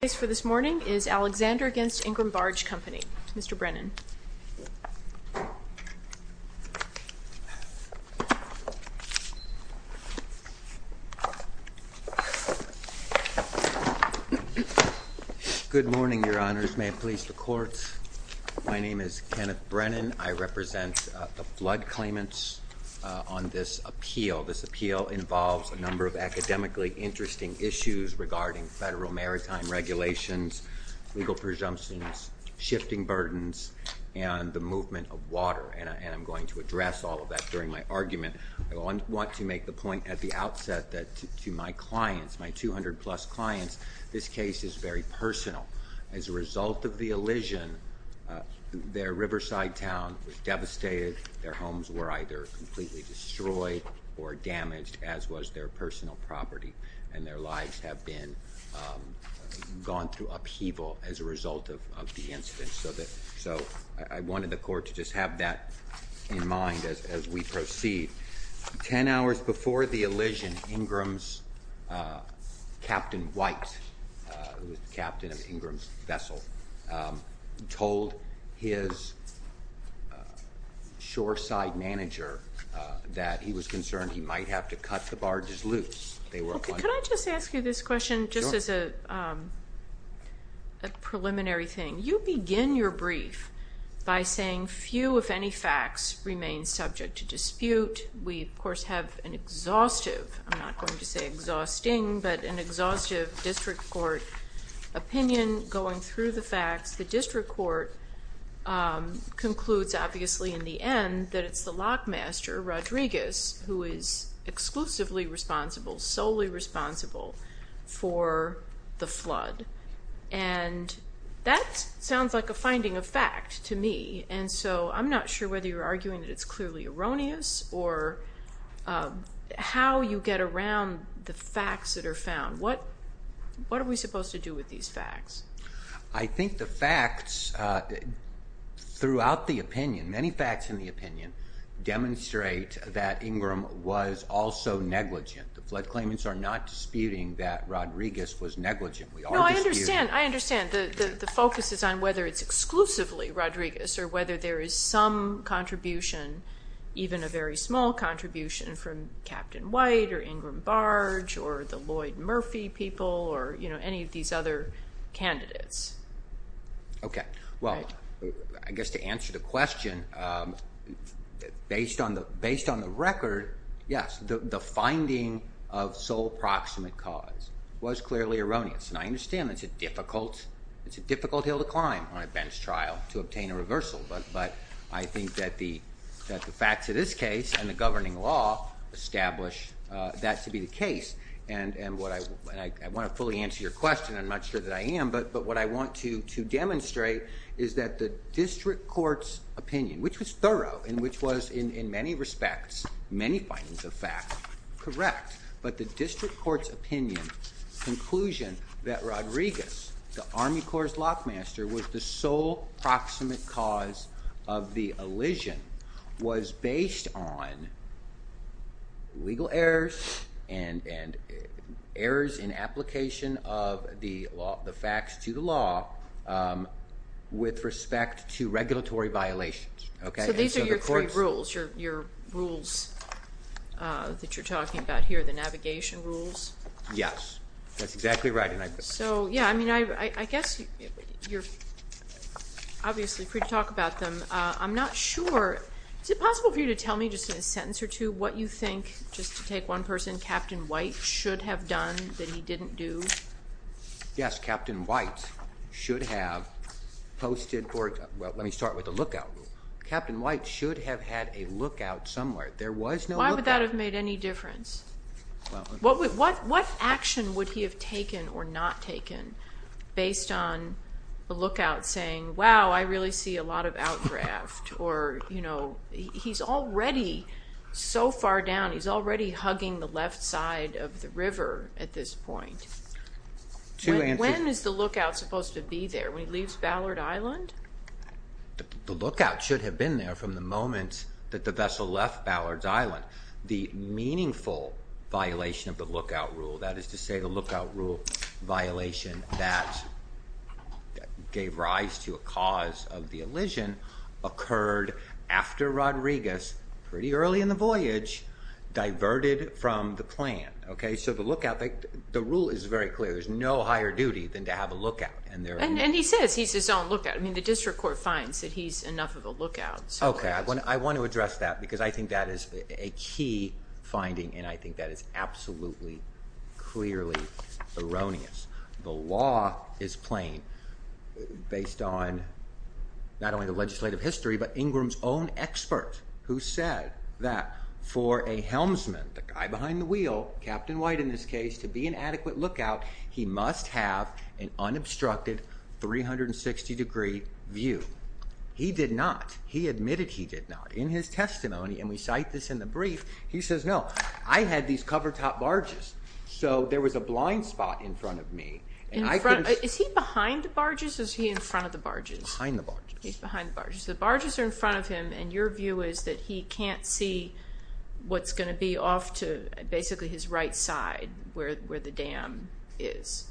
The case for this morning is Alexander v. Ingram Barge Company. Mr. Brennan. Good morning, Your Honors. May it please the Court, my name is Kenneth Brennan. I represent the flood claimants on this appeal. This appeal involves a number of academically interesting issues regarding federal maritime regulations, legal presumptions, shifting burdens, and the movement of water. And I'm going to address all of that during my argument. I want to make the point at the outset that to my clients, my 200-plus clients, this case is very personal. As a result of the elision, their riverside town was devastated. Their homes were either completely destroyed or damaged, as was their personal property. And their lives have been gone through upheaval as a result of the incident. So I wanted the Court to just have that in mind as we proceed. Ten hours before the elision, Ingram's Captain White, who was the captain of Ingram's vessel, told his shoreside manager that he was concerned he might have to cut the barge's loops. Can I just ask you this question, just as a preliminary thing? You begin your brief by saying few, if any, facts remain subject to dispute. We, of course, have an exhaustive, I'm not going to say exhausting, but an exhaustive district court opinion going through the facts. The district court concludes, obviously, in the end, that it's the lockmaster, Rodriguez, who is exclusively responsible, solely responsible for the flood. And that sounds like a finding of fact to me. And so I'm not sure whether you're arguing that it's clearly erroneous or how you get around the facts that are found. What are we supposed to do with these facts? I think the facts throughout the opinion, many facts in the opinion, demonstrate that Ingram was also negligent. The flood claimants are not disputing that Rodriguez was negligent. No, I understand. I understand. The focus is on whether it's exclusively Rodriguez or whether there is some contribution, even a very small contribution, from Captain White or Ingram Barge or the Lloyd Murphy people or any of these other candidates. Okay. Well, I guess to answer the question, based on the record, yes, the finding of sole proximate cause was clearly erroneous. And I understand it's a difficult hill to climb on a bench trial to obtain a reversal. But I think that the facts of this case and the governing law establish that to be the case. And I want to fully answer your question. I'm not sure that I am. But what I want to demonstrate is that the district court's opinion, which was thorough and which was, in many respects, many findings of fact, correct. But the district court's opinion, conclusion that Rodriguez, the Army Corps' lockmaster, was the sole proximate cause of the elision was based on legal errors and errors in application of the facts to the law with respect to regulatory violations. Okay. So these are your three rules, your rules that you're talking about here, the navigation rules? Yes. That's exactly right. So, yeah, I mean, I guess you're obviously free to talk about them. I'm not sure. Is it possible for you to tell me just in a sentence or two what you think, just to take one person, Captain White should have done that he didn't do? Yes, Captain White should have posted for, well, let me start with the lookout rule. Captain White should have had a lookout somewhere. There was no lookout. Why would that have made any difference? What action would he have taken or not taken based on the lookout saying, wow, I really see a lot of outdraft or, you know, he's already so far down, he's already hugging the left side of the river at this point. When is the lookout supposed to be there, when he leaves Ballard Island? The lookout should have been there from the moment that the vessel left Ballard Island. The meaningful violation of the lookout rule, that is to say, the lookout rule violation that gave rise to a cause of the elision occurred after Rodriguez, pretty early in the voyage, diverted from the plan. Okay. So the lookout, the rule is very clear. There's no higher duty than to have a lookout. And he says he's his own lookout. I mean, the district court finds that he's enough of a lookout. Okay. I want to address that because I think that is a key finding, and I think that is absolutely, clearly erroneous. The law is plain based on not only the legislative history, but Ingram's own expert who said that for a helmsman, the guy behind the wheel, Captain White in this case, to be an adequate lookout, he must have an unobstructed 360 degree view. He did not. He admitted he did not. In his testimony, and we cite this in the brief, he says, no, I had these cover top barges. So there was a blind spot in front of me. Is he behind the barges or is he in front of the barges? Behind the barges. He's behind the barges. The barges are in front of him, and your view is that he can't see what's going to be off to basically his right side, where the dam is.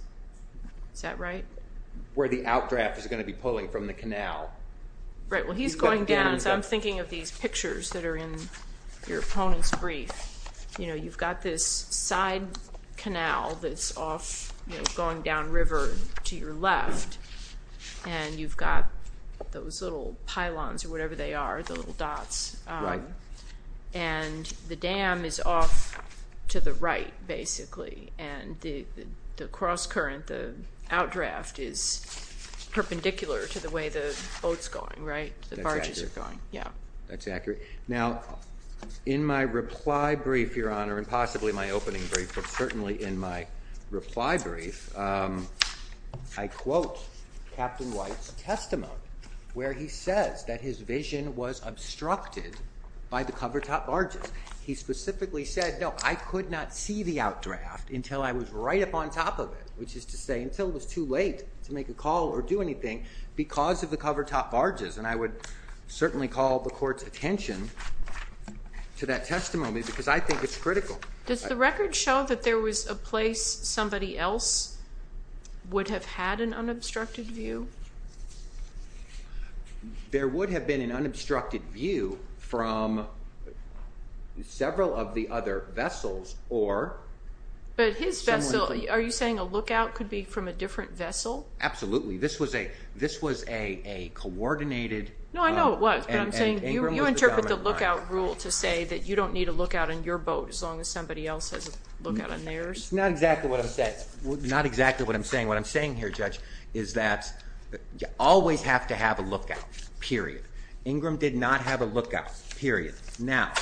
Is that right? Where the outdraft is going to be pulling from the canal. Right, well, he's going down, so I'm thinking of these pictures that are in your opponent's brief. You know, you've got this side canal that's off, you know, going down river to your left, and you've got those little pylons or whatever they are, the little dots. Right. And the dam is off to the right, basically, and the cross current, the outdraft is perpendicular to the way the boat's going, right? The barges are going. Yeah, that's accurate. Now, in my reply brief, Your Honor, and possibly my opening brief, but certainly in my reply brief, I quote Captain White's testimony, where he says that his vision was obstructed by the covertop barges. He specifically said, no, I could not see the outdraft until I was right up on top of it, which is to say until it was too late to make a call or do anything because of the covertop barges. And I would certainly call the Court's attention to that testimony because I think it's critical. Does the record show that there was a place somebody else would have had an unobstructed view? There would have been an unobstructed view from several of the other vessels or someone from… But his vessel, are you saying a lookout could be from a different vessel? Absolutely. This was a coordinated… No, I know it was, but I'm saying you interpret the lookout rule to say that you don't need a lookout on your boat as long as somebody else has a lookout on theirs. It's not exactly what I'm saying. What I'm saying here, Judge, is that you always have to have a lookout, period. Ingram did not have a lookout, period. Now,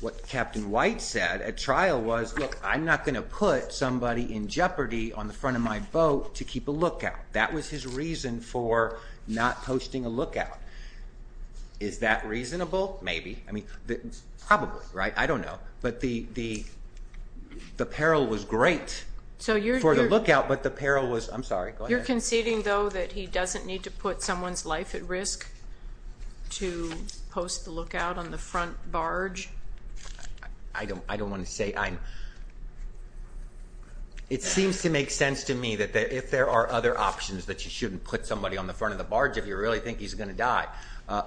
what Captain White said at trial was, look, I'm not going to put somebody in jeopardy on the front of my boat to keep a lookout. That was his reason for not posting a lookout. Is that reasonable? Maybe. I mean, probably, right? I don't know. But the peril was great for the lookout, but the peril was… I'm sorry. Go ahead. You're conceding, though, that he doesn't need to put someone's life at risk to post the lookout on the front barge? I don't want to say I'm… It seems to make sense to me that if there are other options that you shouldn't put somebody on the front of the barge if you really think he's going to die.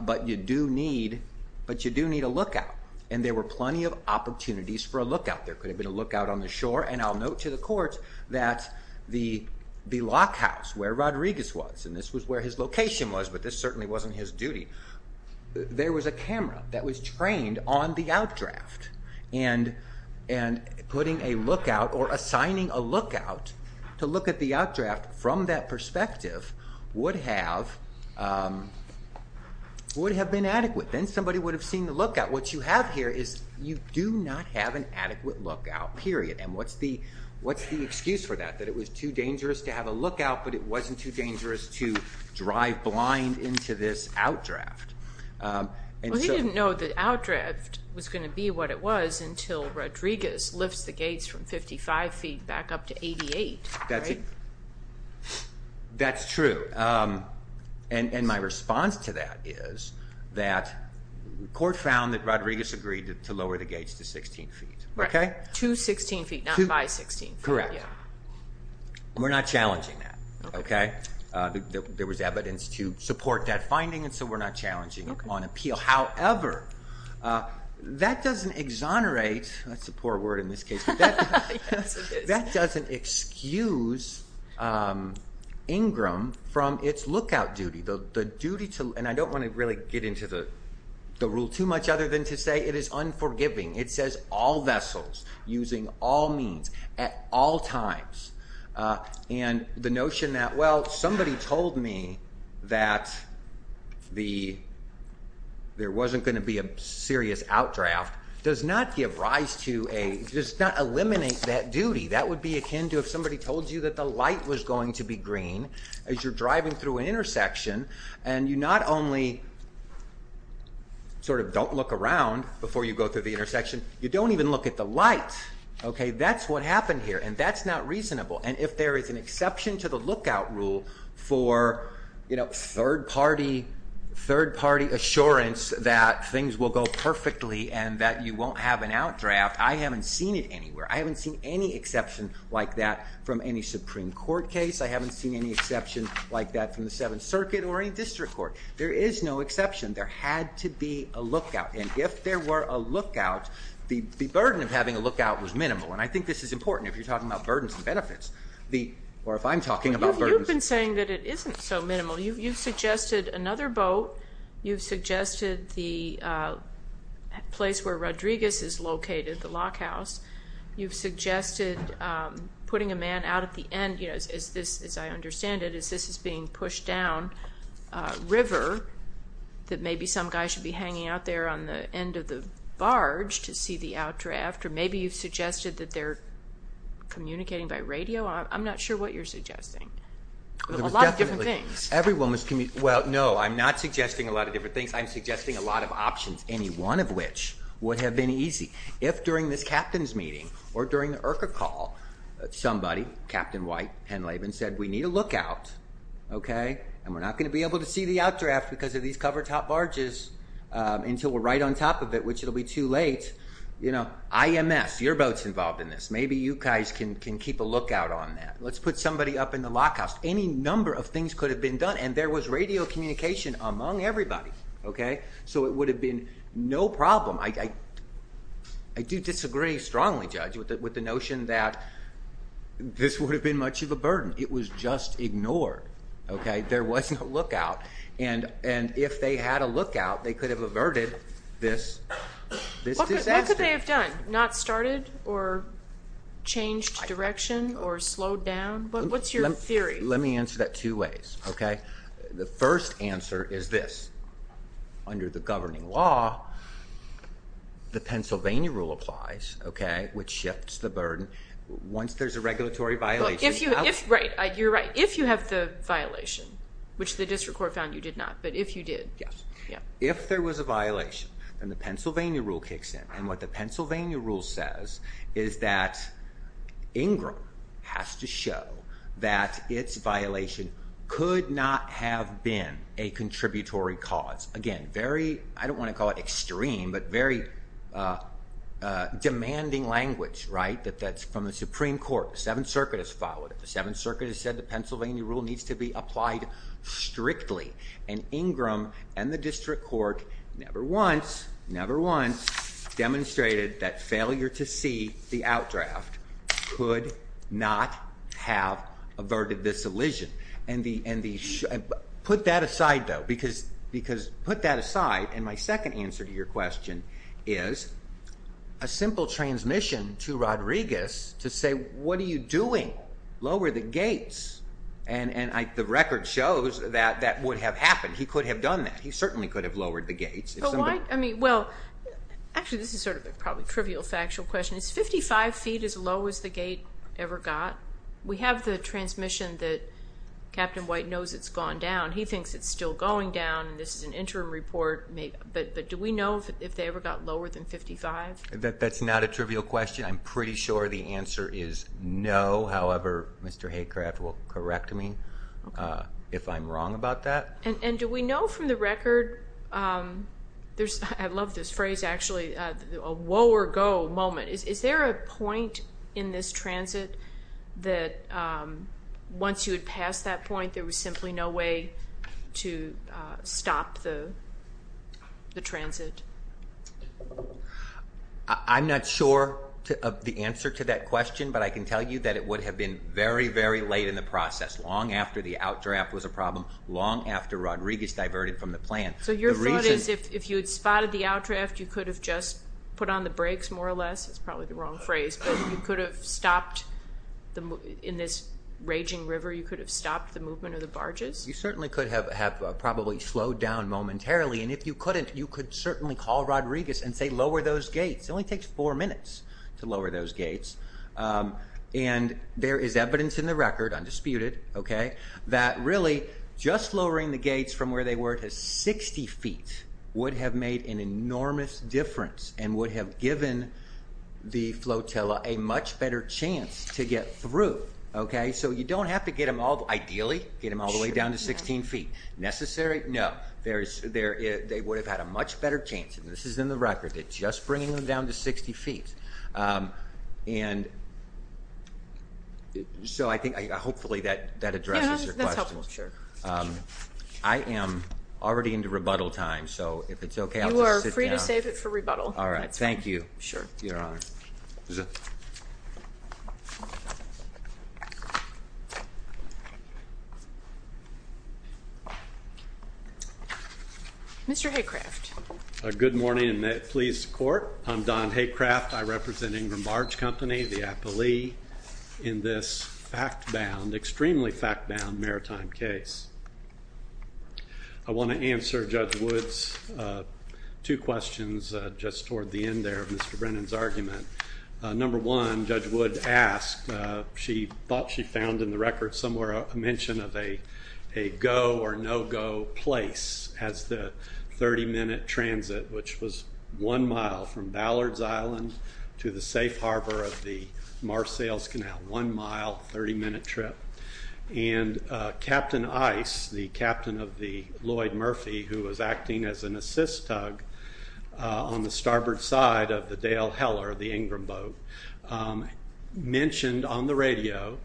But you do need a lookout, and there were plenty of opportunities for a lookout. There could have been a lookout on the shore, and I'll note to the court that the lockhouse where Rodriguez was, and this was where his location was, but this certainly wasn't his duty, there was a camera that was trained on the outdraft, and putting a lookout or assigning a lookout to look at the outdraft from that perspective would have been adequate. Then somebody would have seen the lookout. What you have here is you do not have an adequate lookout, period. And what's the excuse for that, that it was too dangerous to have a lookout, but it wasn't too dangerous to drive blind into this outdraft? Well, he didn't know the outdraft was going to be what it was until Rodriguez lifts the gates from 55 feet back up to 88, right? That's true. And my response to that is that the court found that Rodriguez agreed to lower the gates to 16 feet. To 16 feet, not by 16 feet. Correct. We're not challenging that, okay? There was evidence to support that finding, and so we're not challenging it on appeal. However, that doesn't exonerate, that's a poor word in this case, but that doesn't excuse Ingram from its lookout duty. And I don't want to really get into the rule too much other than to say it is unforgiving. It says all vessels using all means at all times. And the notion that, well, somebody told me that there wasn't going to be a serious outdraft does not give rise to a, does not eliminate that duty. That would be akin to if somebody told you that the light was going to be green as you're driving through an intersection, and you not only sort of don't look around before you go through the intersection, you don't even look at the light, okay? That's what happened here, and that's not reasonable. And if there is an exception to the lookout rule for, you know, third-party assurance that things will go perfectly and that you won't have an outdraft, I haven't seen it anywhere. I haven't seen any exception like that from any Supreme Court case. I haven't seen any exception like that from the Seventh Circuit or any district court. There is no exception. There had to be a lookout, and if there were a lookout, the burden of having a lookout was minimal. And I think this is important if you're talking about burdens and benefits, or if I'm talking about burdens. You've been saying that it isn't so minimal. You've suggested another boat. You've suggested the place where Rodriguez is located, the lockhouse. You've suggested putting a man out at the end. As I understand it, this is being pushed down a river that maybe some guy should be hanging out there on the end of the barge to see the outdraft. Or maybe you've suggested that they're communicating by radio. I'm not sure what you're suggesting. A lot of different things. Everyone was communicating. Well, no, I'm not suggesting a lot of different things. I'm suggesting a lot of options, any one of which would have been easy. If during this captain's meeting or during the IRCA call, somebody, Captain White, Penn Lavin, said, we need a lookout, okay, and we're not going to be able to see the outdraft because of these covered top barges until we're right on top of it, which it will be too late, you know, IMS, your boat's involved in this. Maybe you guys can keep a lookout on that. Let's put somebody up in the lockhouse. Any number of things could have been done, and there was radio communication among everybody, okay? So it would have been no problem. I do disagree strongly, Judge, with the notion that this would have been much of a burden. It was just ignored, okay? There wasn't a lookout, and if they had a lookout, they could have averted this disaster. What could they have done? Not started or changed direction or slowed down? What's your theory? Let me answer that two ways, okay? The first answer is this. Under the governing law, the Pennsylvania rule applies, okay, which shifts the burden. Once there's a regulatory violation. Right, you're right. If you have the violation, which the district court found you did not, but if you did. Yes. If there was a violation, then the Pennsylvania rule kicks in. And what the Pennsylvania rule says is that Ingram has to show that its violation could not have been a contributory cause. Again, very, I don't want to call it extreme, but very demanding language, right, that's from the Supreme Court. The Seventh Circuit has followed it. The Seventh Circuit has said the Pennsylvania rule needs to be applied strictly. And Ingram and the district court never once, never once demonstrated that failure to see the outdraft could not have averted this elision. Put that aside, though, because put that aside, and my second answer to your question is a simple transmission to Rodriguez to say, what are you doing? Lower the gates. And the record shows that that would have happened. He could have done that. He certainly could have lowered the gates. I mean, well, actually, this is sort of probably a trivial factual question. Is 55 feet as low as the gate ever got? We have the transmission that Captain White knows it's gone down. He thinks it's still going down, and this is an interim report. But do we know if they ever got lower than 55? That's not a trivial question. I'm pretty sure the answer is no. However, Mr. Haycraft will correct me if I'm wrong about that. And do we know from the record? I love this phrase, actually, a woe or go moment. Is there a point in this transit that once you had passed that point, there was simply no way to stop the transit? I'm not sure of the answer to that question, but I can tell you that it would have been very, very late in the process, long after the outdraft was a problem, long after Rodriguez diverted from the plan. So your thought is if you had spotted the outdraft, you could have just put on the brakes more or less? That's probably the wrong phrase. But you could have stopped in this raging river, you could have stopped the movement of the barges? You certainly could have probably slowed down momentarily. And if you couldn't, you could certainly call Rodriguez and say, lower those gates. It only takes four minutes to lower those gates. And there is evidence in the record, undisputed, that really just lowering the gates from where they were to 60 feet would have made an enormous difference and would have given the flotilla a much better chance to get through. So you don't have to get them all, ideally, get them all the way down to 16 feet. Necessary? No. They would have had a much better chance. And this is in the record. It's just bringing them down to 60 feet. And so I think hopefully that addresses your question. Yeah, that's helpful. I am already into rebuttal time. So if it's OK, I'll just sit down. You are free to save it for rebuttal. All right. Thank you. Sure, Your Honor. Mr. Haycraft. Good morning, and please support. I'm Don Haycraft. I represent Ingram Barge Company, the appellee, in this fact-bound, extremely fact-bound maritime case. I want to answer Judge Wood's two questions just toward the end there of Mr. Brennan's argument. Number one, Judge Wood asked, she thought she found in the record somewhere a mention of a go or no-go place as the 30-minute transit, which was one mile from Ballard's Island to the safe harbor of the Mars Sails Canal, one mile, 30-minute trip. And Captain Ice, the captain of the Lloyd Murphy, who was acting as an assist tug on the starboard side of the Dale Heller, the Ingram boat, mentioned on the radio,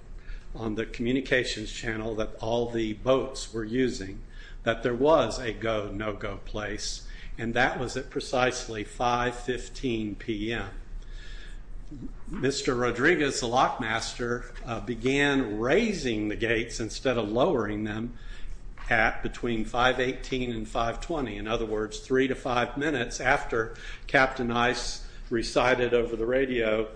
on the communications channel that all the boats were using, that there was a go, no-go place. And that was at precisely 5.15 p.m. Mr. Rodriguez, the lockmaster, began raising the gates instead of lowering them at between 5.18 and 5.20, in other words, three to five minutes after Captain Ice recited over the radio,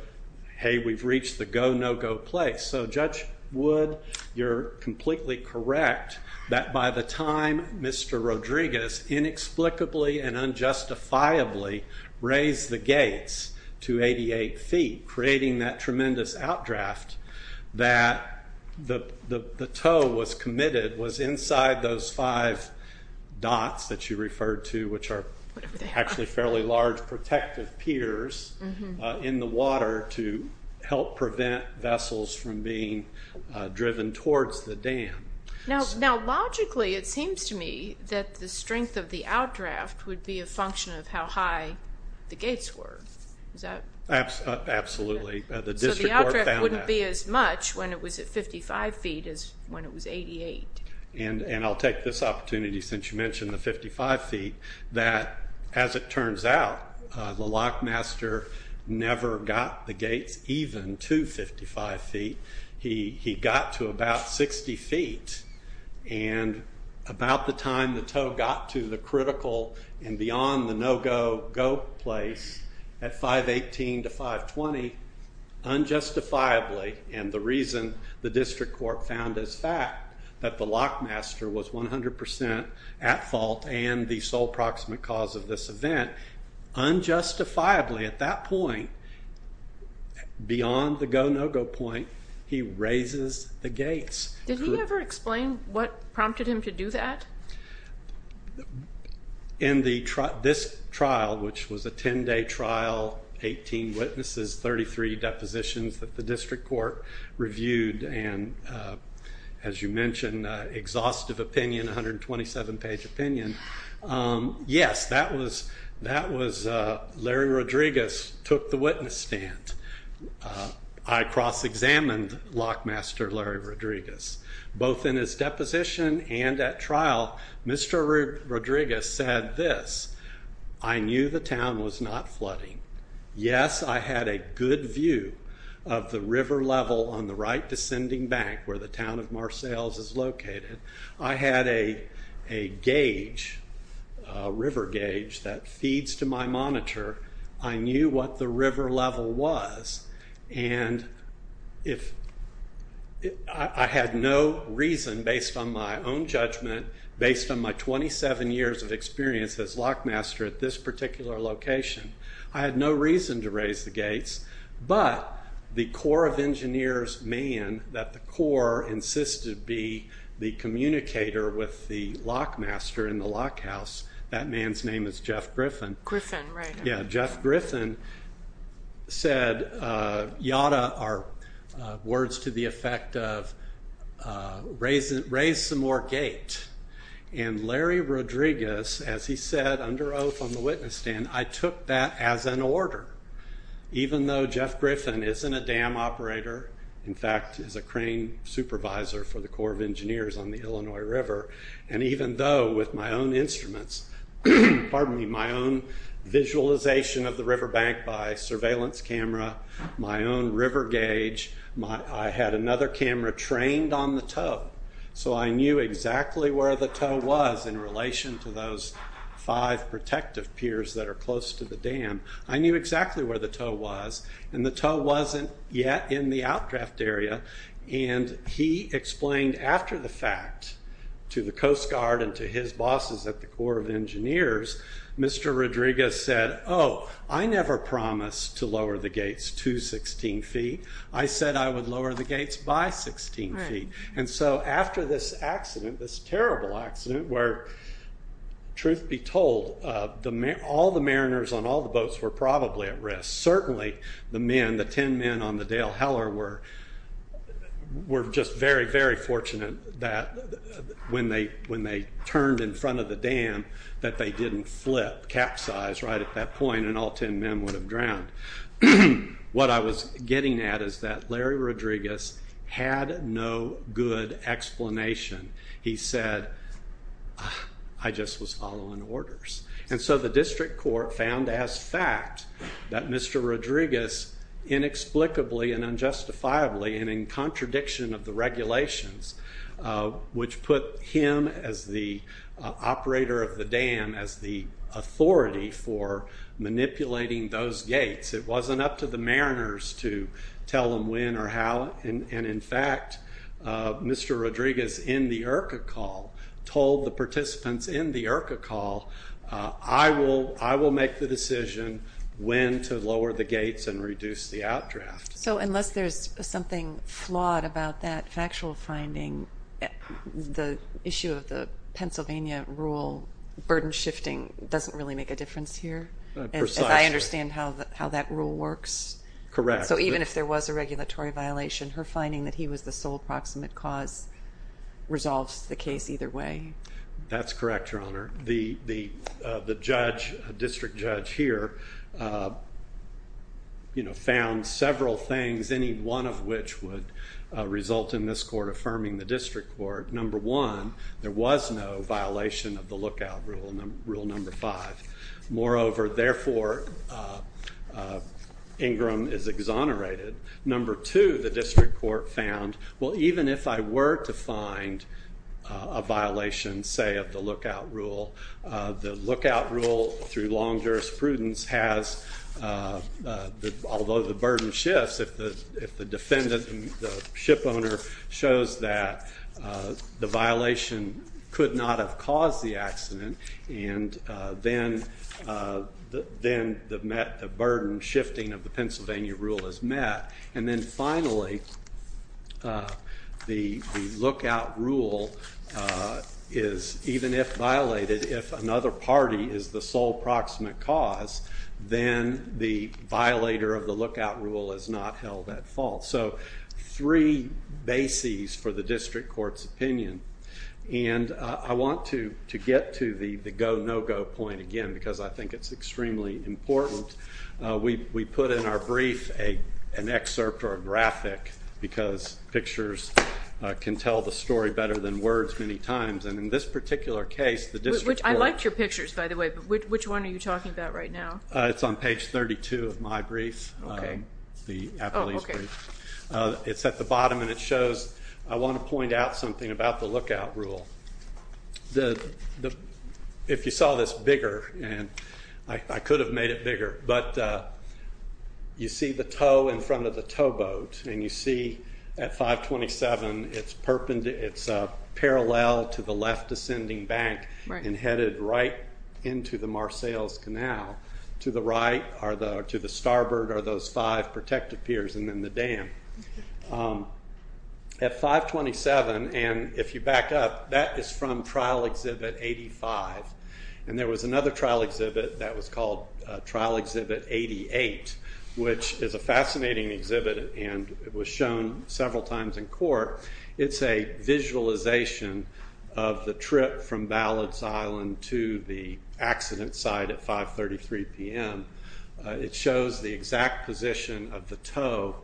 hey, we've reached the go, no-go place. So Judge Wood, you're completely correct that by the time Mr. Rodriguez inexplicably and unjustifiably raised the gates to 88 feet, creating that tremendous outdraft, that the tow was committed, was inside those five dots that you referred to, which are actually fairly large protective piers in the water to help prevent vessels from being driven towards the dam. Now, logically, it seems to me that the strength of the outdraft would be a function of how high the gates were. Absolutely. So the outdraft wouldn't be as much when it was at 55 feet as when it was 88. And I'll take this opportunity, since you mentioned the 55 feet, that as it turns out, the lockmaster never got the gates even to 55 feet. He got to about 60 feet, and about the time the tow got to the critical and beyond the no-go place at 5.18 to 5.20, unjustifiably, and the reason the district court found as fact that the lockmaster was 100% at fault and the sole proximate cause of this event, unjustifiably at that point, beyond the go, no-go point, he raises the gates. Did he ever explain what prompted him to do that? In this trial, which was a 10-day trial, 18 witnesses, 33 depositions that the district court reviewed, and as you mentioned, exhaustive opinion, 127-page opinion, yes, that was Larry Rodriguez took the witness stand. I cross-examined lockmaster Larry Rodriguez. Both in his deposition and at trial, Mr. Rodriguez said this, I knew the town was not flooding. Yes, I had a good view of the river level on the right descending bank where the town of Marcelles is located. I had a gauge, a river gauge, that feeds to my monitor. I knew what the river level was, and I had no reason, based on my own judgment, based on my 27 years of experience as lockmaster at this particular location, I had no reason to raise the gates, but the Corps of Engineers man that the Corps insisted be the communicator with the lockmaster in the lockhouse, that man's name is Jeff Griffin. Griffin, right. Yeah, Jeff Griffin said, yada are words to the effect of raise some more gate, and Larry Rodriguez, as he said under oath on the witness stand, I took that as an order. Even though Jeff Griffin isn't a dam operator, in fact, is a crane supervisor for the Corps of Engineers on the Illinois River, and even though with my own instruments, pardon me, my own visualization of the river bank by surveillance camera, my own river gauge, I had another camera trained on the tow, so I knew exactly where the tow was in relation to those five protective piers that are close to the dam. I knew exactly where the tow was, and the tow wasn't yet in the outdraft area, and he explained after the fact to the Coast Guard and to his bosses at the Corps of Engineers, Mr. Rodriguez said, oh, I never promised to lower the gates to 16 feet. I said I would lower the gates by 16 feet. And so after this accident, this terrible accident, where truth be told, all the mariners on all the boats were probably at risk. Certainly the men, the 10 men on the Dale Heller were just very, very fortunate that when they turned in front of the dam, that they didn't flip, capsize right at that point, and all 10 men would have drowned. What I was getting at is that Larry Rodriguez had no good explanation. He said, I just was following orders. And so the district court found as fact that Mr. Rodriguez inexplicably and unjustifiably and in contradiction of the regulations, which put him as the operator of the dam, as the authority for manipulating those gates, it wasn't up to the mariners to tell them when or how. And in fact, Mr. Rodriguez in the IRCA call told the participants in the IRCA call, I will make the decision when to lower the gates and reduce the outdraft. So unless there's something flawed about that factual finding, the issue of the Pennsylvania rule burden shifting doesn't really make a difference here? Precisely. As I understand how that rule works? Correct. So even if there was a regulatory violation, her finding that he was the sole proximate cause resolves the case either way? That's correct, Your Honor. The district judge here found several things, any one of which would result in this court affirming the district court. Number one, there was no violation of the lookout rule, rule number five. Moreover, therefore, Ingram is exonerated. And number two, the district court found, well, even if I were to find a violation, say, of the lookout rule, the lookout rule through long jurisprudence has, although the burden shifts, if the ship owner shows that the violation could not have caused the accident, and then the burden shifting of the Pennsylvania rule is met, and then finally the lookout rule is, even if violated, if another party is the sole proximate cause, then the violator of the lookout rule is not held at fault. So three bases for the district court's opinion. And I want to get to the go-no-go point again because I think it's extremely important. We put in our brief an excerpt or a graphic because pictures can tell the story better than words many times, and in this particular case the district court. I liked your pictures, by the way, but which one are you talking about right now? It's on page 32 of my brief, the appellee's brief. It's at the bottom and it shows, I want to point out something about the lookout rule. If you saw this bigger, and I could have made it bigger, but you see the tow in front of the towboat, and you see at 527 it's parallel to the left ascending bank and headed right into the Marseilles Canal. To the right or to the starboard are those five protective piers and then the dam. At 527, and if you back up, that is from Trial Exhibit 85, and there was another trial exhibit that was called Trial Exhibit 88, which is a fascinating exhibit and it was shown several times in court. It's a visualization of the trip from Ballots Island to the accident site at 533 p.m. It shows the exact position of the tow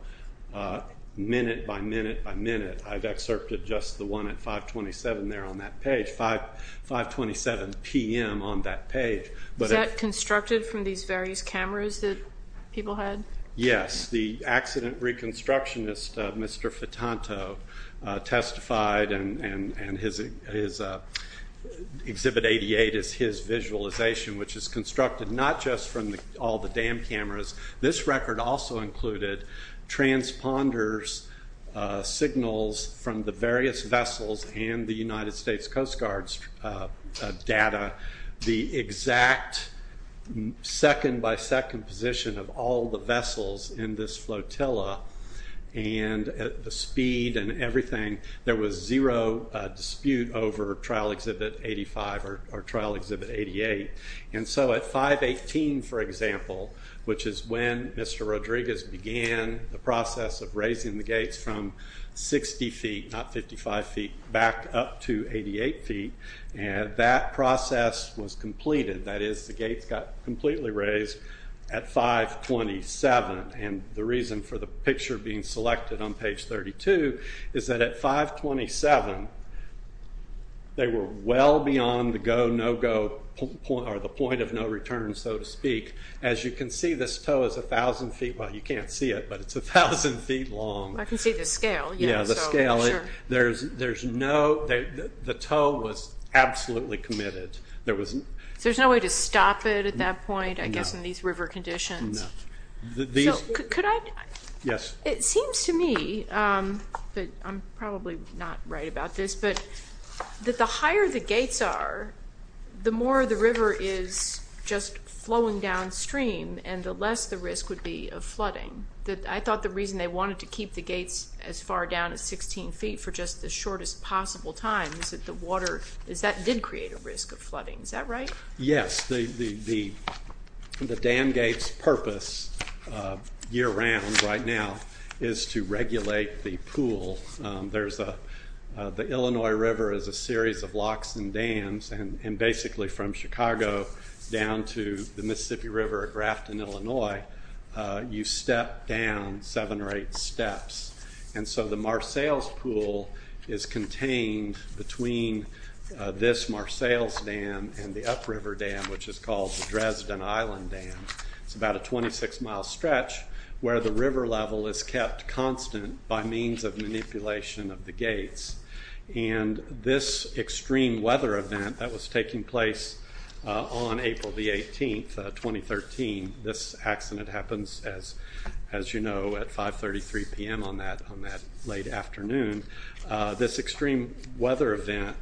minute by minute by minute. I've excerpted just the one at 527 there on that page, 527 p.m. on that page. Was that constructed from these various cameras that people had? Yes. The accident reconstructionist, Mr. Fitanto, testified, and Exhibit 88 is his visualization, which is constructed not just from all the dam cameras. This record also included transponders' signals from the various vessels and the United States Coast Guard's data, the exact second by second position of all the vessels in this flotilla, and the speed and everything. There was zero dispute over Trial Exhibit 85 or Trial Exhibit 88. At 518, for example, which is when Mr. Rodriguez began the process of raising the gates from 60 feet, not 55 feet, back up to 88 feet, that process was completed. That is, the gates got completely raised at 527. The reason for the picture being selected on page 32 is that at 527, they were well beyond the go, no go, or the point of no return, so to speak. As you can see, this tow is 1,000 feet. Well, you can't see it, but it's 1,000 feet long. I can see the scale. Yeah, the scale. The tow was absolutely committed. So there's no way to stop it at that point, I guess, in these river conditions? No. Could I? Yes. It seems to me, but I'm probably not right about this, but that the higher the gates are, the more the river is just flowing downstream, and the less the risk would be of flooding. I thought the reason they wanted to keep the gates as far down as 16 feet for just the shortest possible time is that the water did create a risk of flooding. Is that right? Yes. The dam gate's purpose year-round right now is to regulate the pool. The Illinois River is a series of locks and dams, and basically from Chicago down to the Mississippi River at Grafton, Illinois, you step down seven or eight steps. And so the Marcelles Pool is contained between this Marcelles Dam and the upriver dam, which is called the Dresden Island Dam. It's about a 26-mile stretch where the river level is kept constant by means of manipulation of the gates. And this extreme weather event that was taking place on April the 18th, 2013, this accident happens, as you know, at 5.33 p.m. on that late afternoon, this extreme weather event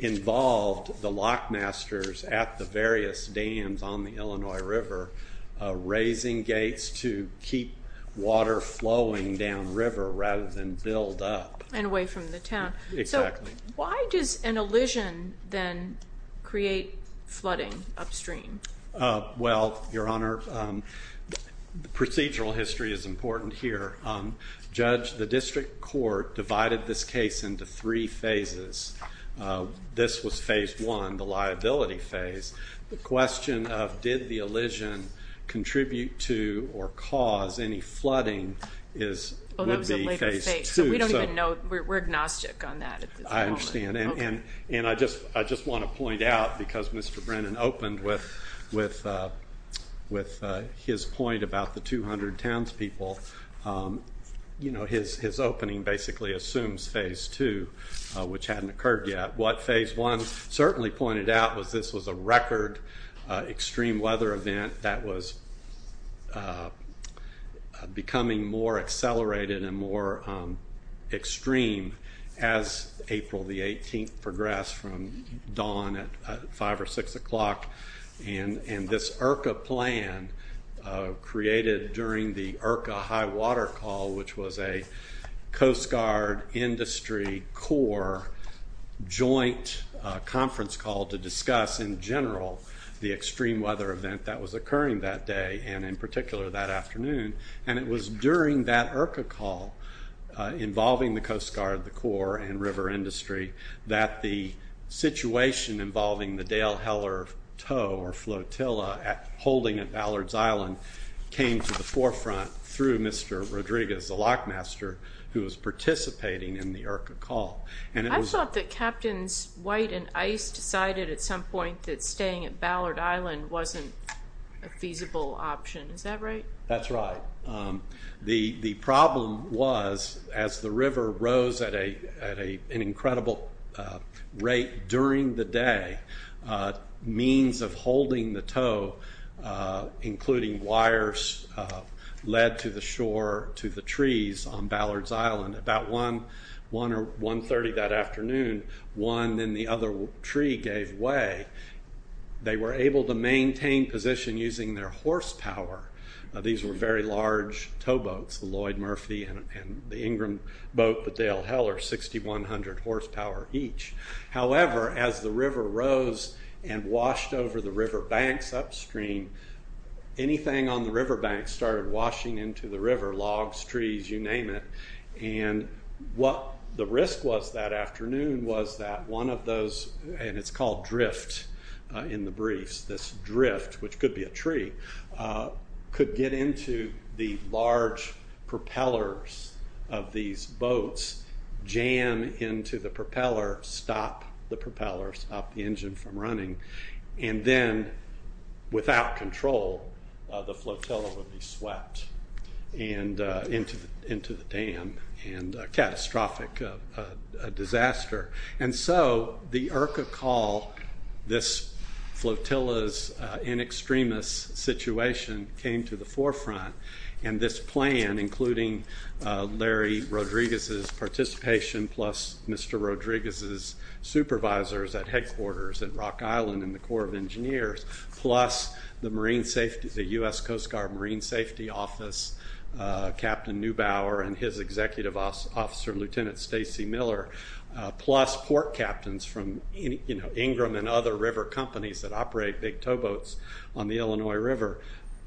involved the lockmasters at the various dams on the Illinois River raising gates to keep water flowing downriver rather than build up. And away from the town. Exactly. So why does an elision then create flooding upstream? Well, Your Honor, procedural history is important here. Judge, the district court divided this case into three phases. This was phase one, the liability phase. The question of did the elision contribute to or cause any flooding would be phase two. So we don't even know. We're agnostic on that at this moment. I understand. And I just want to point out, because Mr. Brennan opened with his point about the 200 townspeople, his opening basically assumes phase two, which hadn't occurred yet. What phase one certainly pointed out was this was a record extreme weather event that was becoming more accelerated and more extreme as April the 18th progressed from dawn at 5 or 6 o'clock. And this IRCA plan created during the IRCA high water call, which was a Coast Guard industry core joint conference call to discuss, in general, the extreme weather event that was occurring that day and in particular that afternoon. And it was during that IRCA call involving the Coast Guard, the core, and river industry that the situation involving the Dale Heller tow or flotilla holding at Ballard's Island came to the forefront through Mr. Rodriguez, the lockmaster, who was participating in the IRCA call. I thought that Captains White and Ice decided at some point that staying at Ballard Island wasn't a feasible option. Is that right? That's right. The problem was as the river rose at an incredible rate during the day, means of holding the tow, including wires, led to the shore to the trees on Ballard's Island. About 1 or 1.30 that afternoon, one in the other tree gave way. They were able to maintain position using their horsepower. These were very large towboats, the Lloyd Murphy and the Ingram boat, but Dale Heller, 6,100 horsepower each. However, as the river rose and washed over the river banks upstream, and what the risk was that afternoon was that one of those, and it's called drift in the briefs, this drift, which could be a tree, could get into the large propellers of these boats, jam into the propeller, stop the propellers, stop the engine from running, and then without control the flotilla would be swept into the dam and a catastrophic disaster. And so the IRCA call, this flotilla's in extremis situation, came to the forefront, and this plan, including Larry Rodriguez's participation plus Mr. Rodriguez's supervisors at headquarters at Rock Island and the Corps of Engineers, plus the U.S. Coast Guard Marine Safety Office, Captain Neubauer and his executive officer, Lieutenant Stacy Miller, plus port captains from Ingram and other river companies that operate big towboats on the Illinois River.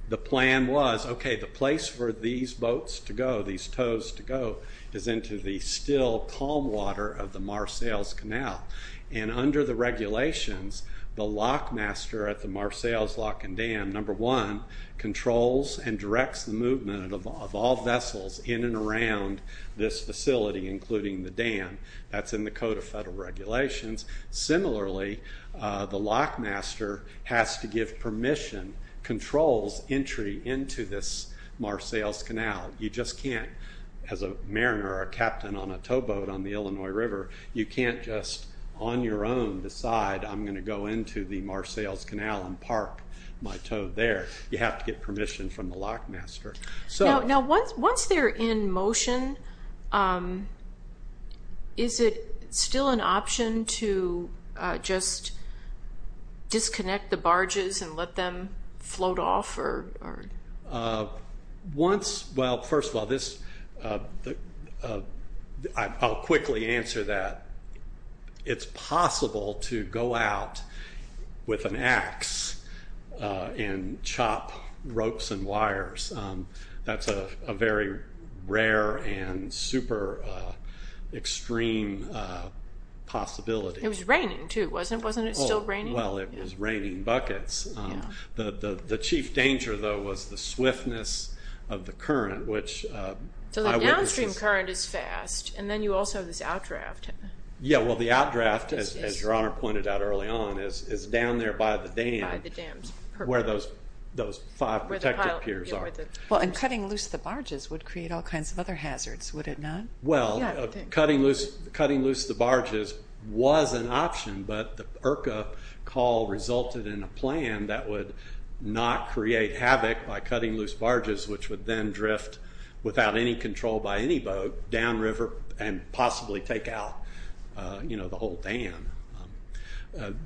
The plan was, okay, the place for these boats to go, these tows to go, is into the still calm water of the Mar Sales Canal, and under the regulations, the lock master at the Mar Sales Lock and Dam, number one, controls and directs the movement of all vessels in and around this facility, including the dam. That's in the Code of Federal Regulations. Similarly, the lock master has to give permission, controls entry into this Mar Sales Canal. You just can't, as a mariner or a captain on a towboat on the Illinois River, you can't just on your own decide, I'm going to go into the Mar Sales Canal and park my tow there. You have to get permission from the lock master. Now, once they're in motion, is it still an option to just disconnect the barges and let them float off? Well, first of all, I'll quickly answer that. It's possible to go out with an axe and chop ropes and wires. That's a very rare and super extreme possibility. It was raining too, wasn't it? Wasn't it still raining? Well, it was raining buckets. The chief danger, though, was the swiftness of the current. So the downstream current is fast, and then you also have this outdraft. Yeah, well, the outdraft, as Your Honor pointed out early on, is down there by the dam where those five protected piers are. Well, and cutting loose the barges would create all kinds of other hazards, would it not? Well, cutting loose the barges was an option, but the IRCA call resulted in a plan that would not create havoc by cutting loose barges, which would then drift without any control by any boat downriver and possibly take out the whole dam.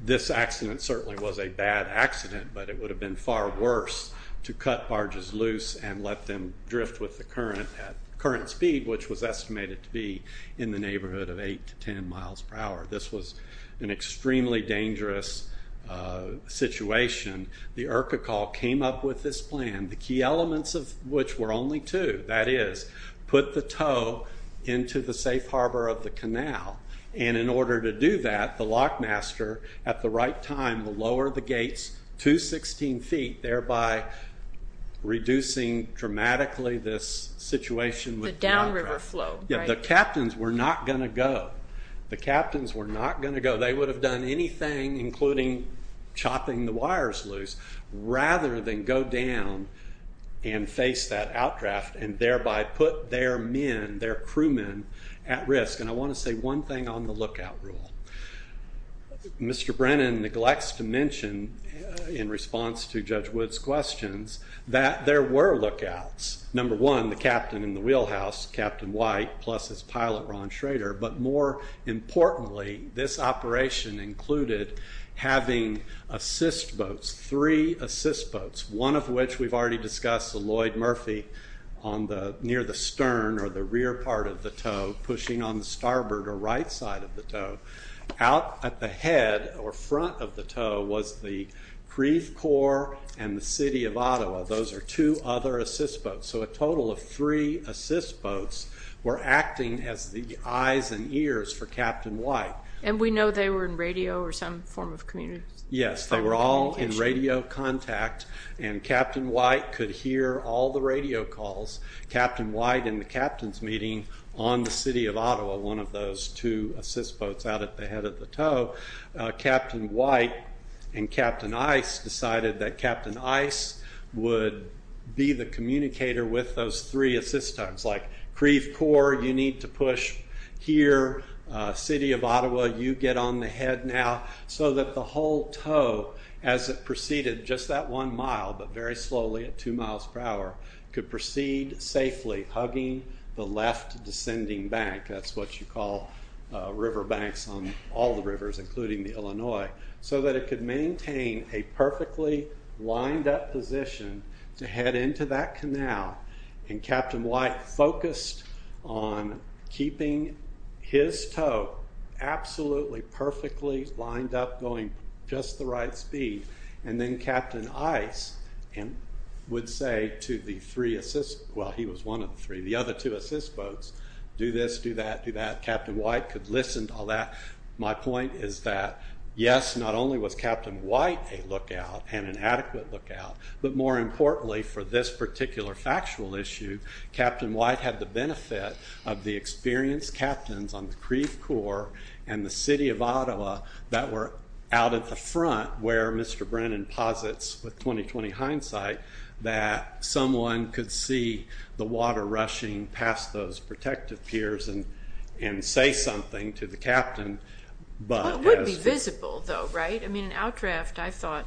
This accident certainly was a bad accident, but it would have been far worse to cut barges loose and let them drift with the current at current speed, which was estimated to be in the neighborhood of 8 to 10 miles per hour. This was an extremely dangerous situation. The IRCA call came up with this plan, the key elements of which were only two. That is, put the tow into the safe harbor of the canal, and in order to do that, the lockmaster, at the right time, will lower the gates to 16 feet, thereby reducing dramatically this situation. The downriver flow, right? Yeah, the captains were not going to go. The captains were not going to go. They would have done anything, including chopping the wires loose, rather than go down and face that outdraft and thereby put their men, their crewmen, at risk. And I want to say one thing on the lookout rule. Mr. Brennan neglects to mention, in response to Judge Wood's questions, that there were lookouts. Number one, the captain in the wheelhouse, Captain White, plus his pilot, Ron Schrader. But more importantly, this operation included having assist boats, three assist boats, one of which we've already discussed, the Lloyd Murphy near the stern or the rear part of the tow, pushing on the starboard or right side of the tow. Out at the head or front of the tow was the Creve Corps and the City of Ottawa. Those are two other assist boats. So a total of three assist boats were acting as the eyes and ears for Captain White. And we know they were in radio or some form of communication. Yes, they were all in radio contact, and Captain White could hear all the radio calls. Captain White, in the captains' meeting on the City of Ottawa, one of those two assist boats out at the head of the tow, Captain White and Captain Ice decided that Captain Ice would be the communicator with those three assist boats. Like, Creve Corps, you need to push here. City of Ottawa, you get on the head now. So that the whole tow, as it proceeded just that one mile, but very slowly at two miles per hour, could proceed safely, hugging the left descending bank. That's what you call river banks on all the rivers, including the Illinois. So that it could maintain a perfectly lined up position to head into that canal. And Captain White focused on keeping his tow absolutely perfectly lined up, going just the right speed. And then Captain Ice would say to the three assist, well, he was one of the three, the other two assist boats, do this, do that, do that. Captain White could listen to all that. My point is that, yes, not only was Captain White a lookout and an adequate lookout, but more importantly for this particular factual issue, Captain White had the benefit of the experienced captains on the Creve Corps and the City of Ottawa that were out at the front where Mr. Brennan posits with 20-20 hindsight that someone could see the water rushing past those protective piers and say something to the captain. It would be visible, though, right? I mean, an outdraft, I thought,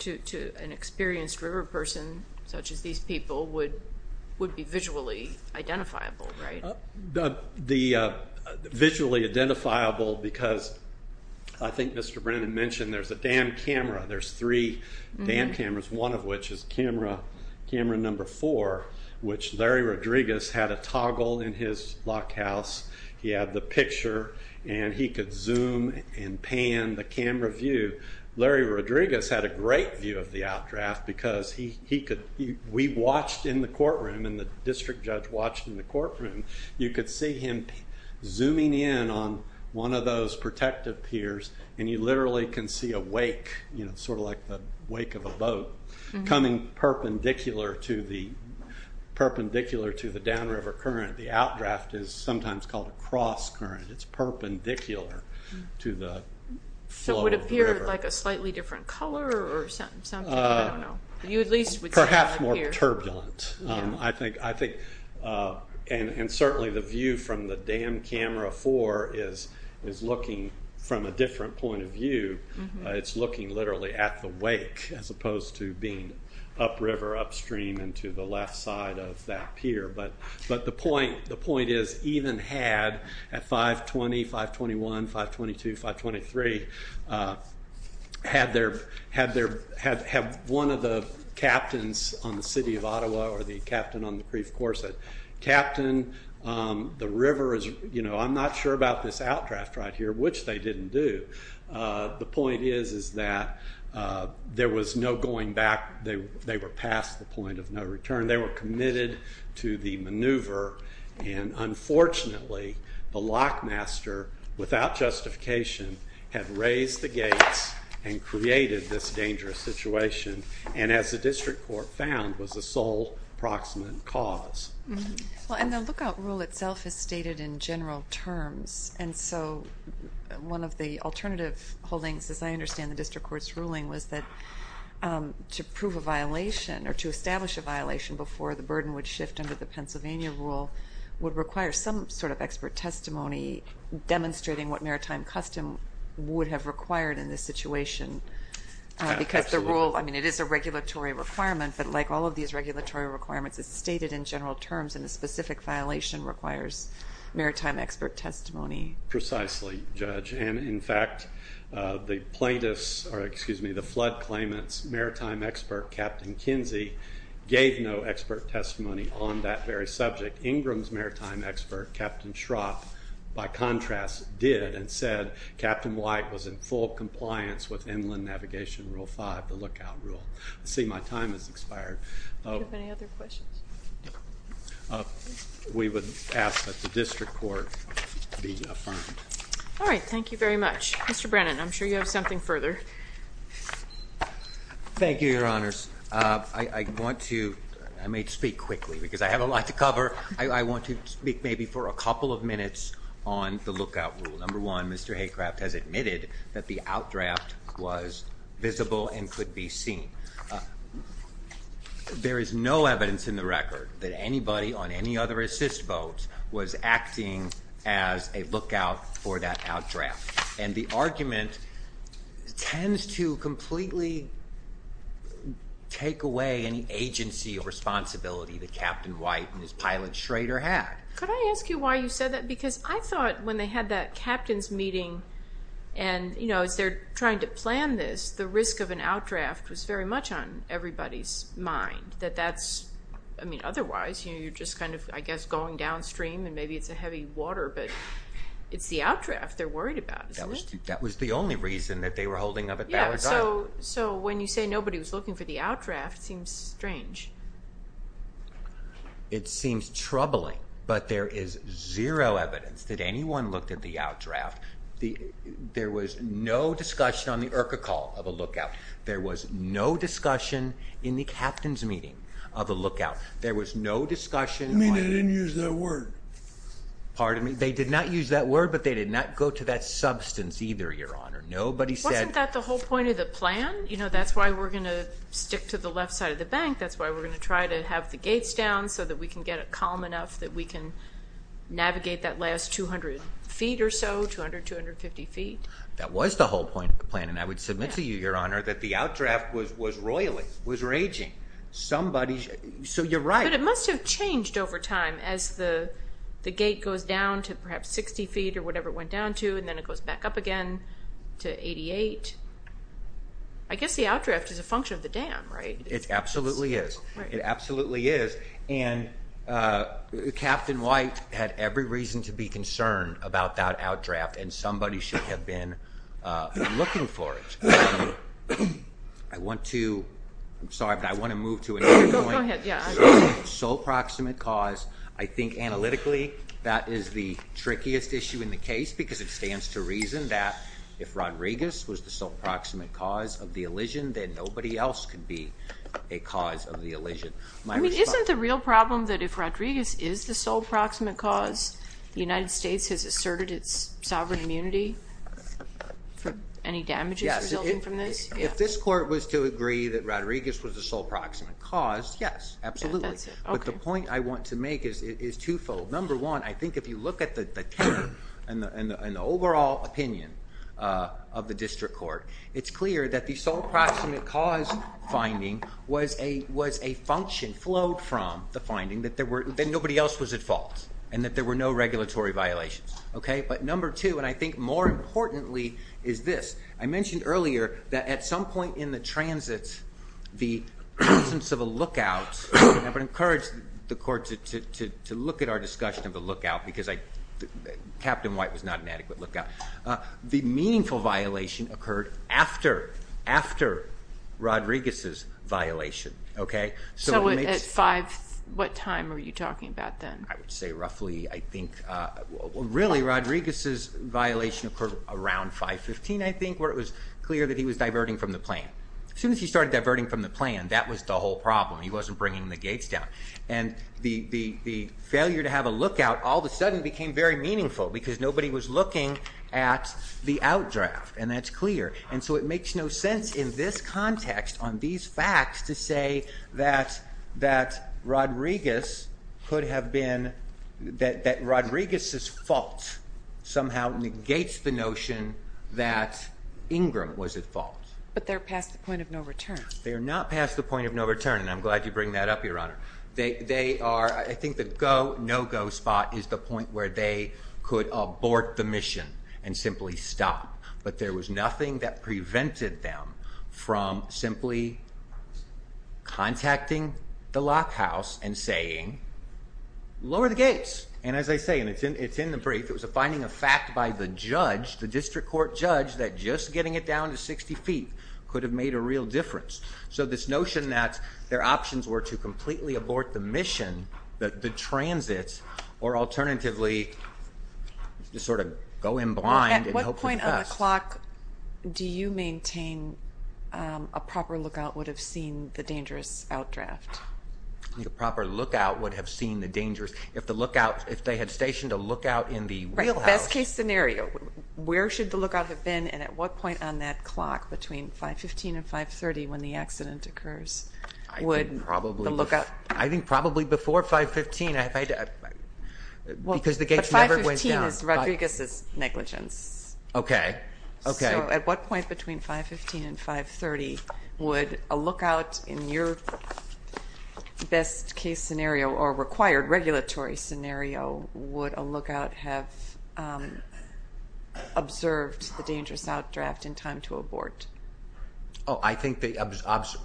to an experienced river person such as these people, would be visually identifiable, right? Visually identifiable because I think Mr. Brennan mentioned there's a dam camera. There's three dam cameras, one of which is camera number four, which Larry Rodriguez had a toggle in his lock house. He had the picture, and he could zoom and pan the camera view. Larry Rodriguez had a great view of the outdraft because we watched in the courtroom and the district judge watched in the courtroom. You could see him zooming in on one of those protective piers, and you literally can see a wake, sort of like the wake of a boat, coming perpendicular to the downriver current. The outdraft is sometimes called a cross current. It's perpendicular to the flow of the river. So it would appear like a slightly different color or something? I don't know. Perhaps more turbulent. And certainly the view from the dam camera four is looking from a different point of view. It's looking literally at the wake as opposed to being upriver, upstream, and to the left side of that pier. But the point is even had at 520, 521, 522, 523, had one of the captains on the city of Ottawa or the captain on the Creve Corset, Captain, the river is, you know, I'm not sure about this outdraft right here, which they didn't do. The point is that there was no going back. They were past the point of no return. They were committed to the maneuver, and unfortunately the lockmaster, without justification, had raised the gates and created this dangerous situation, and as the district court found, was the sole proximate cause. Well, and the lookout rule itself is stated in general terms, and so one of the alternative holdings, as I understand the district court's ruling, was that to prove a violation or to establish a violation before the burden would shift under the Pennsylvania rule would require some sort of expert testimony demonstrating what maritime custom would have required in this situation. Because the rule, I mean, it is a regulatory requirement, but like all of these regulatory requirements, it's stated in general terms, and a specific violation requires maritime expert testimony. Precisely, Judge, and in fact, the plaintiffs, or excuse me, the flood claimants' maritime expert, Captain Kinsey, gave no expert testimony on that very subject. Ingram's maritime expert, Captain Schropp, by contrast, did and said Captain White was in full compliance with inland navigation rule 5, the lookout rule. I see my time has expired. Do you have any other questions? We would ask that the district court be affirmed. All right. Thank you very much. Mr. Brennan, I'm sure you have something further. Thank you, Your Honors. I want to speak quickly because I have a lot to cover. I want to speak maybe for a couple of minutes on the lookout rule. Number one, Mr. Haycraft has admitted that the outdraft was visible and could be seen. There is no evidence in the record that anybody on any other assist vote was acting as a lookout for that outdraft. And the argument tends to completely take away any agency or responsibility that Captain White and his pilot Schrader had. Could I ask you why you said that? Because I thought when they had that captain's meeting and, you know, as they're trying to plan this, the risk of an outdraft was very much on everybody's mind. I mean, otherwise, you're just kind of, I guess, going downstream and maybe it's a heavy water, but it's the outdraft they're worried about, isn't it? That was the only reason that they were holding up at Ballard Drive. Yeah, so when you say nobody was looking for the outdraft, it seems strange. It seems troubling, but there is zero evidence that anyone looked at the outdraft. There was no discussion on the IRCA call of a lookout. There was no discussion in the captain's meeting of a lookout. There was no discussion. I mean, they didn't use that word. Pardon me? They did not use that word, but they did not go to that substance either, Your Honor. Wasn't that the whole point of the plan? You know, that's why we're going to stick to the left side of the bank. That's why we're going to try to have the gates down so that we can get it calm enough that we can navigate that last 200 feet or so, 200, 250 feet. That was the whole point of the plan, and I would submit to you, Your Honor, that the outdraft was roiling, was raging. Somebody's—so you're right. But it must have changed over time as the gate goes down to perhaps 60 feet or whatever it went down to, and then it goes back up again to 88. I guess the outdraft is a function of the dam, right? It absolutely is. It absolutely is, and Captain White had every reason to be concerned about that outdraft, and somebody should have been looking for it. I want to—I'm sorry, but I want to move to another point. Go ahead, yeah. Sole proximate cause. I think analytically that is the trickiest issue in the case because it stands to reason that if Rodriguez was the sole proximate cause of the elision, then nobody else could be a cause of the elision. I mean, isn't the real problem that if Rodriguez is the sole proximate cause, the United States has asserted its sovereign immunity from any damages resulting from this? Yes. If this court was to agree that Rodriguez was the sole proximate cause, yes, absolutely. That's it, okay. But the point I want to make is twofold. Number one, I think if you look at the term and the overall opinion of the district court, it's clear that the sole proximate cause finding was a function flowed from the finding that nobody else was at fault and that there were no regulatory violations. But number two, and I think more importantly, is this. I mentioned earlier that at some point in the transit, the absence of a lookout, and I would encourage the court to look at our discussion of the lookout because Captain White was not an adequate lookout. The meaningful violation occurred after Rodriguez's violation. So at five, what time were you talking about then? I would say roughly, I think, really, Rodriguez's violation occurred around 5-15, I think, where it was clear that he was diverting from the plan. As soon as he started diverting from the plan, that was the whole problem. He wasn't bringing the gates down. And the failure to have a lookout all of a sudden became very meaningful because nobody was looking at the outdraft, and that's clear. And so it makes no sense in this context on these facts to say that Rodriguez's fault somehow negates the notion that Ingram was at fault. But they're past the point of no return. They are not past the point of no return, and I'm glad you bring that up, Your Honor. I think the go, no-go spot is the point where they could abort the mission and simply stop. But there was nothing that prevented them from simply contacting the lockhouse and saying, lower the gates. And as I say, and it's in the brief, it was a finding of fact by the judge, the district court judge, that just getting it down to 60 feet could have made a real difference. So this notion that their options were to completely abort the mission, the transit, or alternatively just sort of go in blind and hope for the best. At what point on the clock do you maintain a proper lookout would have seen the dangerous outdraft? A proper lookout would have seen the dangerous, if the lookout, if they had stationed a lookout in the wheelhouse. Best case scenario, where should the lookout have been and at what point on that clock between 515 and 530 when the accident occurs would the lookout? I think probably before 515 because the gates never went down. But 515 is Rodriguez's negligence. Okay, okay. So at what point between 515 and 530 would a lookout in your best case scenario or required regulatory scenario, would a lookout have observed the dangerous outdraft in time to abort? Oh, I think they observed.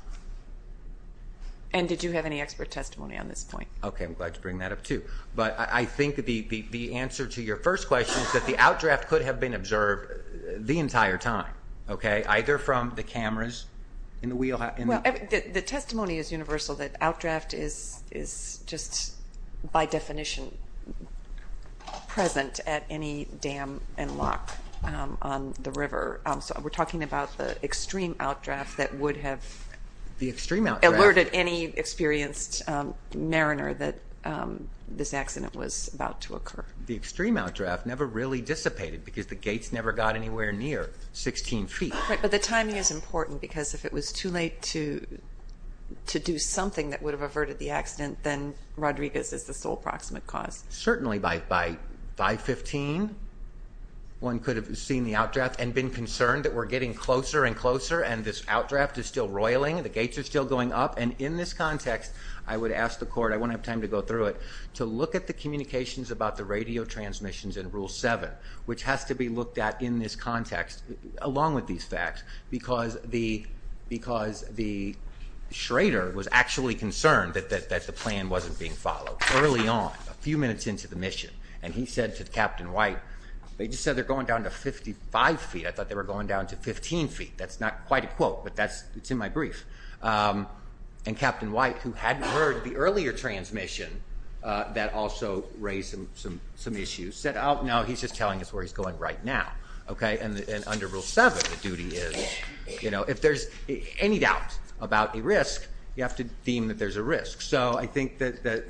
And did you have any expert testimony on this point? Okay, I'm glad to bring that up too. But I think the answer to your first question is that the outdraft could have been observed the entire time, okay, either from the cameras in the wheelhouse. The testimony is universal that outdraft is just by definition present at any dam and lock on the river. So we're talking about the extreme outdraft that would have alerted any experienced mariner that this accident was about to occur. The extreme outdraft never really dissipated because the gates never got anywhere near 16 feet. Right, but the timing is important because if it was too late to do something that would have averted the accident, then Rodriguez is the sole proximate cause. Certainly by 515, one could have seen the outdraft and been concerned that we're getting closer and closer and this outdraft is still roiling, the gates are still going up. And in this context, I would ask the court, I won't have time to go through it, to look at the communications about the radio transmissions in Rule 7, which has to be looked at in this context along with these facts because the schrader was actually concerned that the plan wasn't being followed. Early on, a few minutes into the mission, and he said to Captain White, they just said they're going down to 55 feet. I thought they were going down to 15 feet. That's not quite a quote, but it's in my brief. And Captain White, who hadn't heard the earlier transmission that also raised some issues, said, oh, no, he's just telling us where he's going right now. And under Rule 7, the duty is if there's any doubt about a risk, you have to deem that there's a risk. So I think that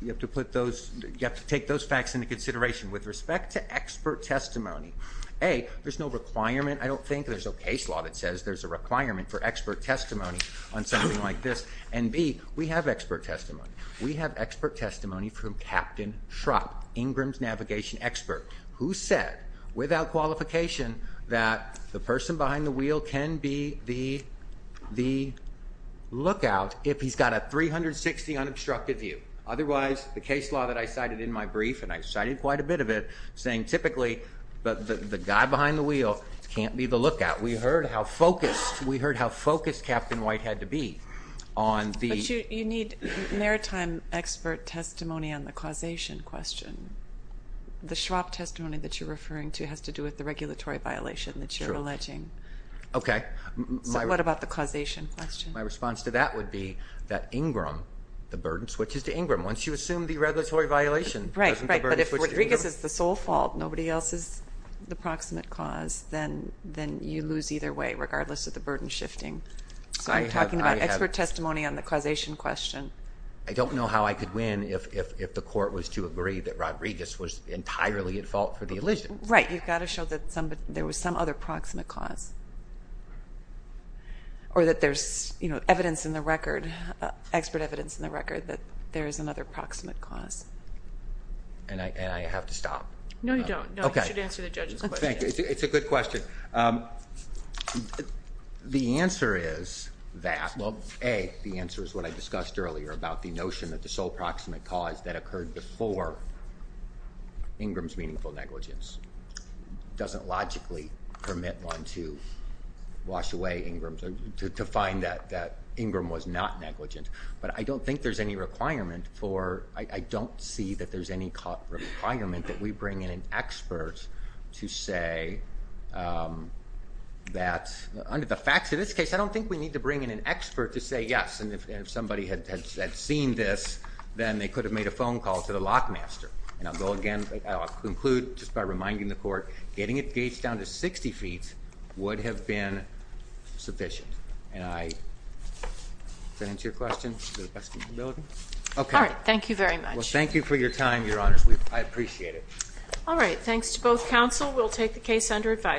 you have to take those facts into consideration. With respect to expert testimony, A, there's no requirement. I don't think there's a case law that says there's a requirement for expert testimony on something like this. And B, we have expert testimony. We have expert testimony from Captain Shrupp, Ingram's navigation expert, who said without qualification that the person behind the wheel can be the lookout if he's got a 360 unobstructed view. Otherwise, the case law that I cited in my brief, and I cited quite a bit of it, saying typically the guy behind the wheel can't be the lookout. We heard how focused Captain White had to be on the ---- But you need maritime expert testimony on the causation question. The Shrupp testimony that you're referring to has to do with the regulatory violation that you're alleging. Okay. So what about the causation question? My response to that would be that Ingram, the burden switches to Ingram. Once you assume the regulatory violation, doesn't the burden switch to Ingram? Right, but if Rodriguez is the sole fault, nobody else is the proximate cause, then you lose either way regardless of the burden shifting. So you're talking about expert testimony on the causation question. I don't know how I could win if the court was to agree that Rodriguez was entirely at fault for the allegiance. Right. You've got to show that there was some other proximate cause or that there's evidence in the record, expert evidence in the record that there is another proximate cause. And I have to stop? No, you don't. No, you should answer the judge's question. Thank you. It's a good question. The answer is that, well, A, the answer is what I discussed earlier about the notion that the sole proximate cause that occurred before Ingram's meaningful negligence doesn't logically permit one to wash away Ingram's or to find that Ingram was not negligent. But I don't think there's any requirement for or I don't see that there's any requirement that we bring in an expert to say that under the facts of this case, I don't think we need to bring in an expert to say yes. And if somebody had seen this, then they could have made a phone call to the lockmaster. And I'll go again. I'll conclude just by reminding the court getting it gauged down to 60 feet would have been sufficient. And I, does that answer your question? All right. Thank you very much. Well, thank you for your time, Your Honors. I appreciate it. All right. Thanks to both counsel. We'll take the case under advisory.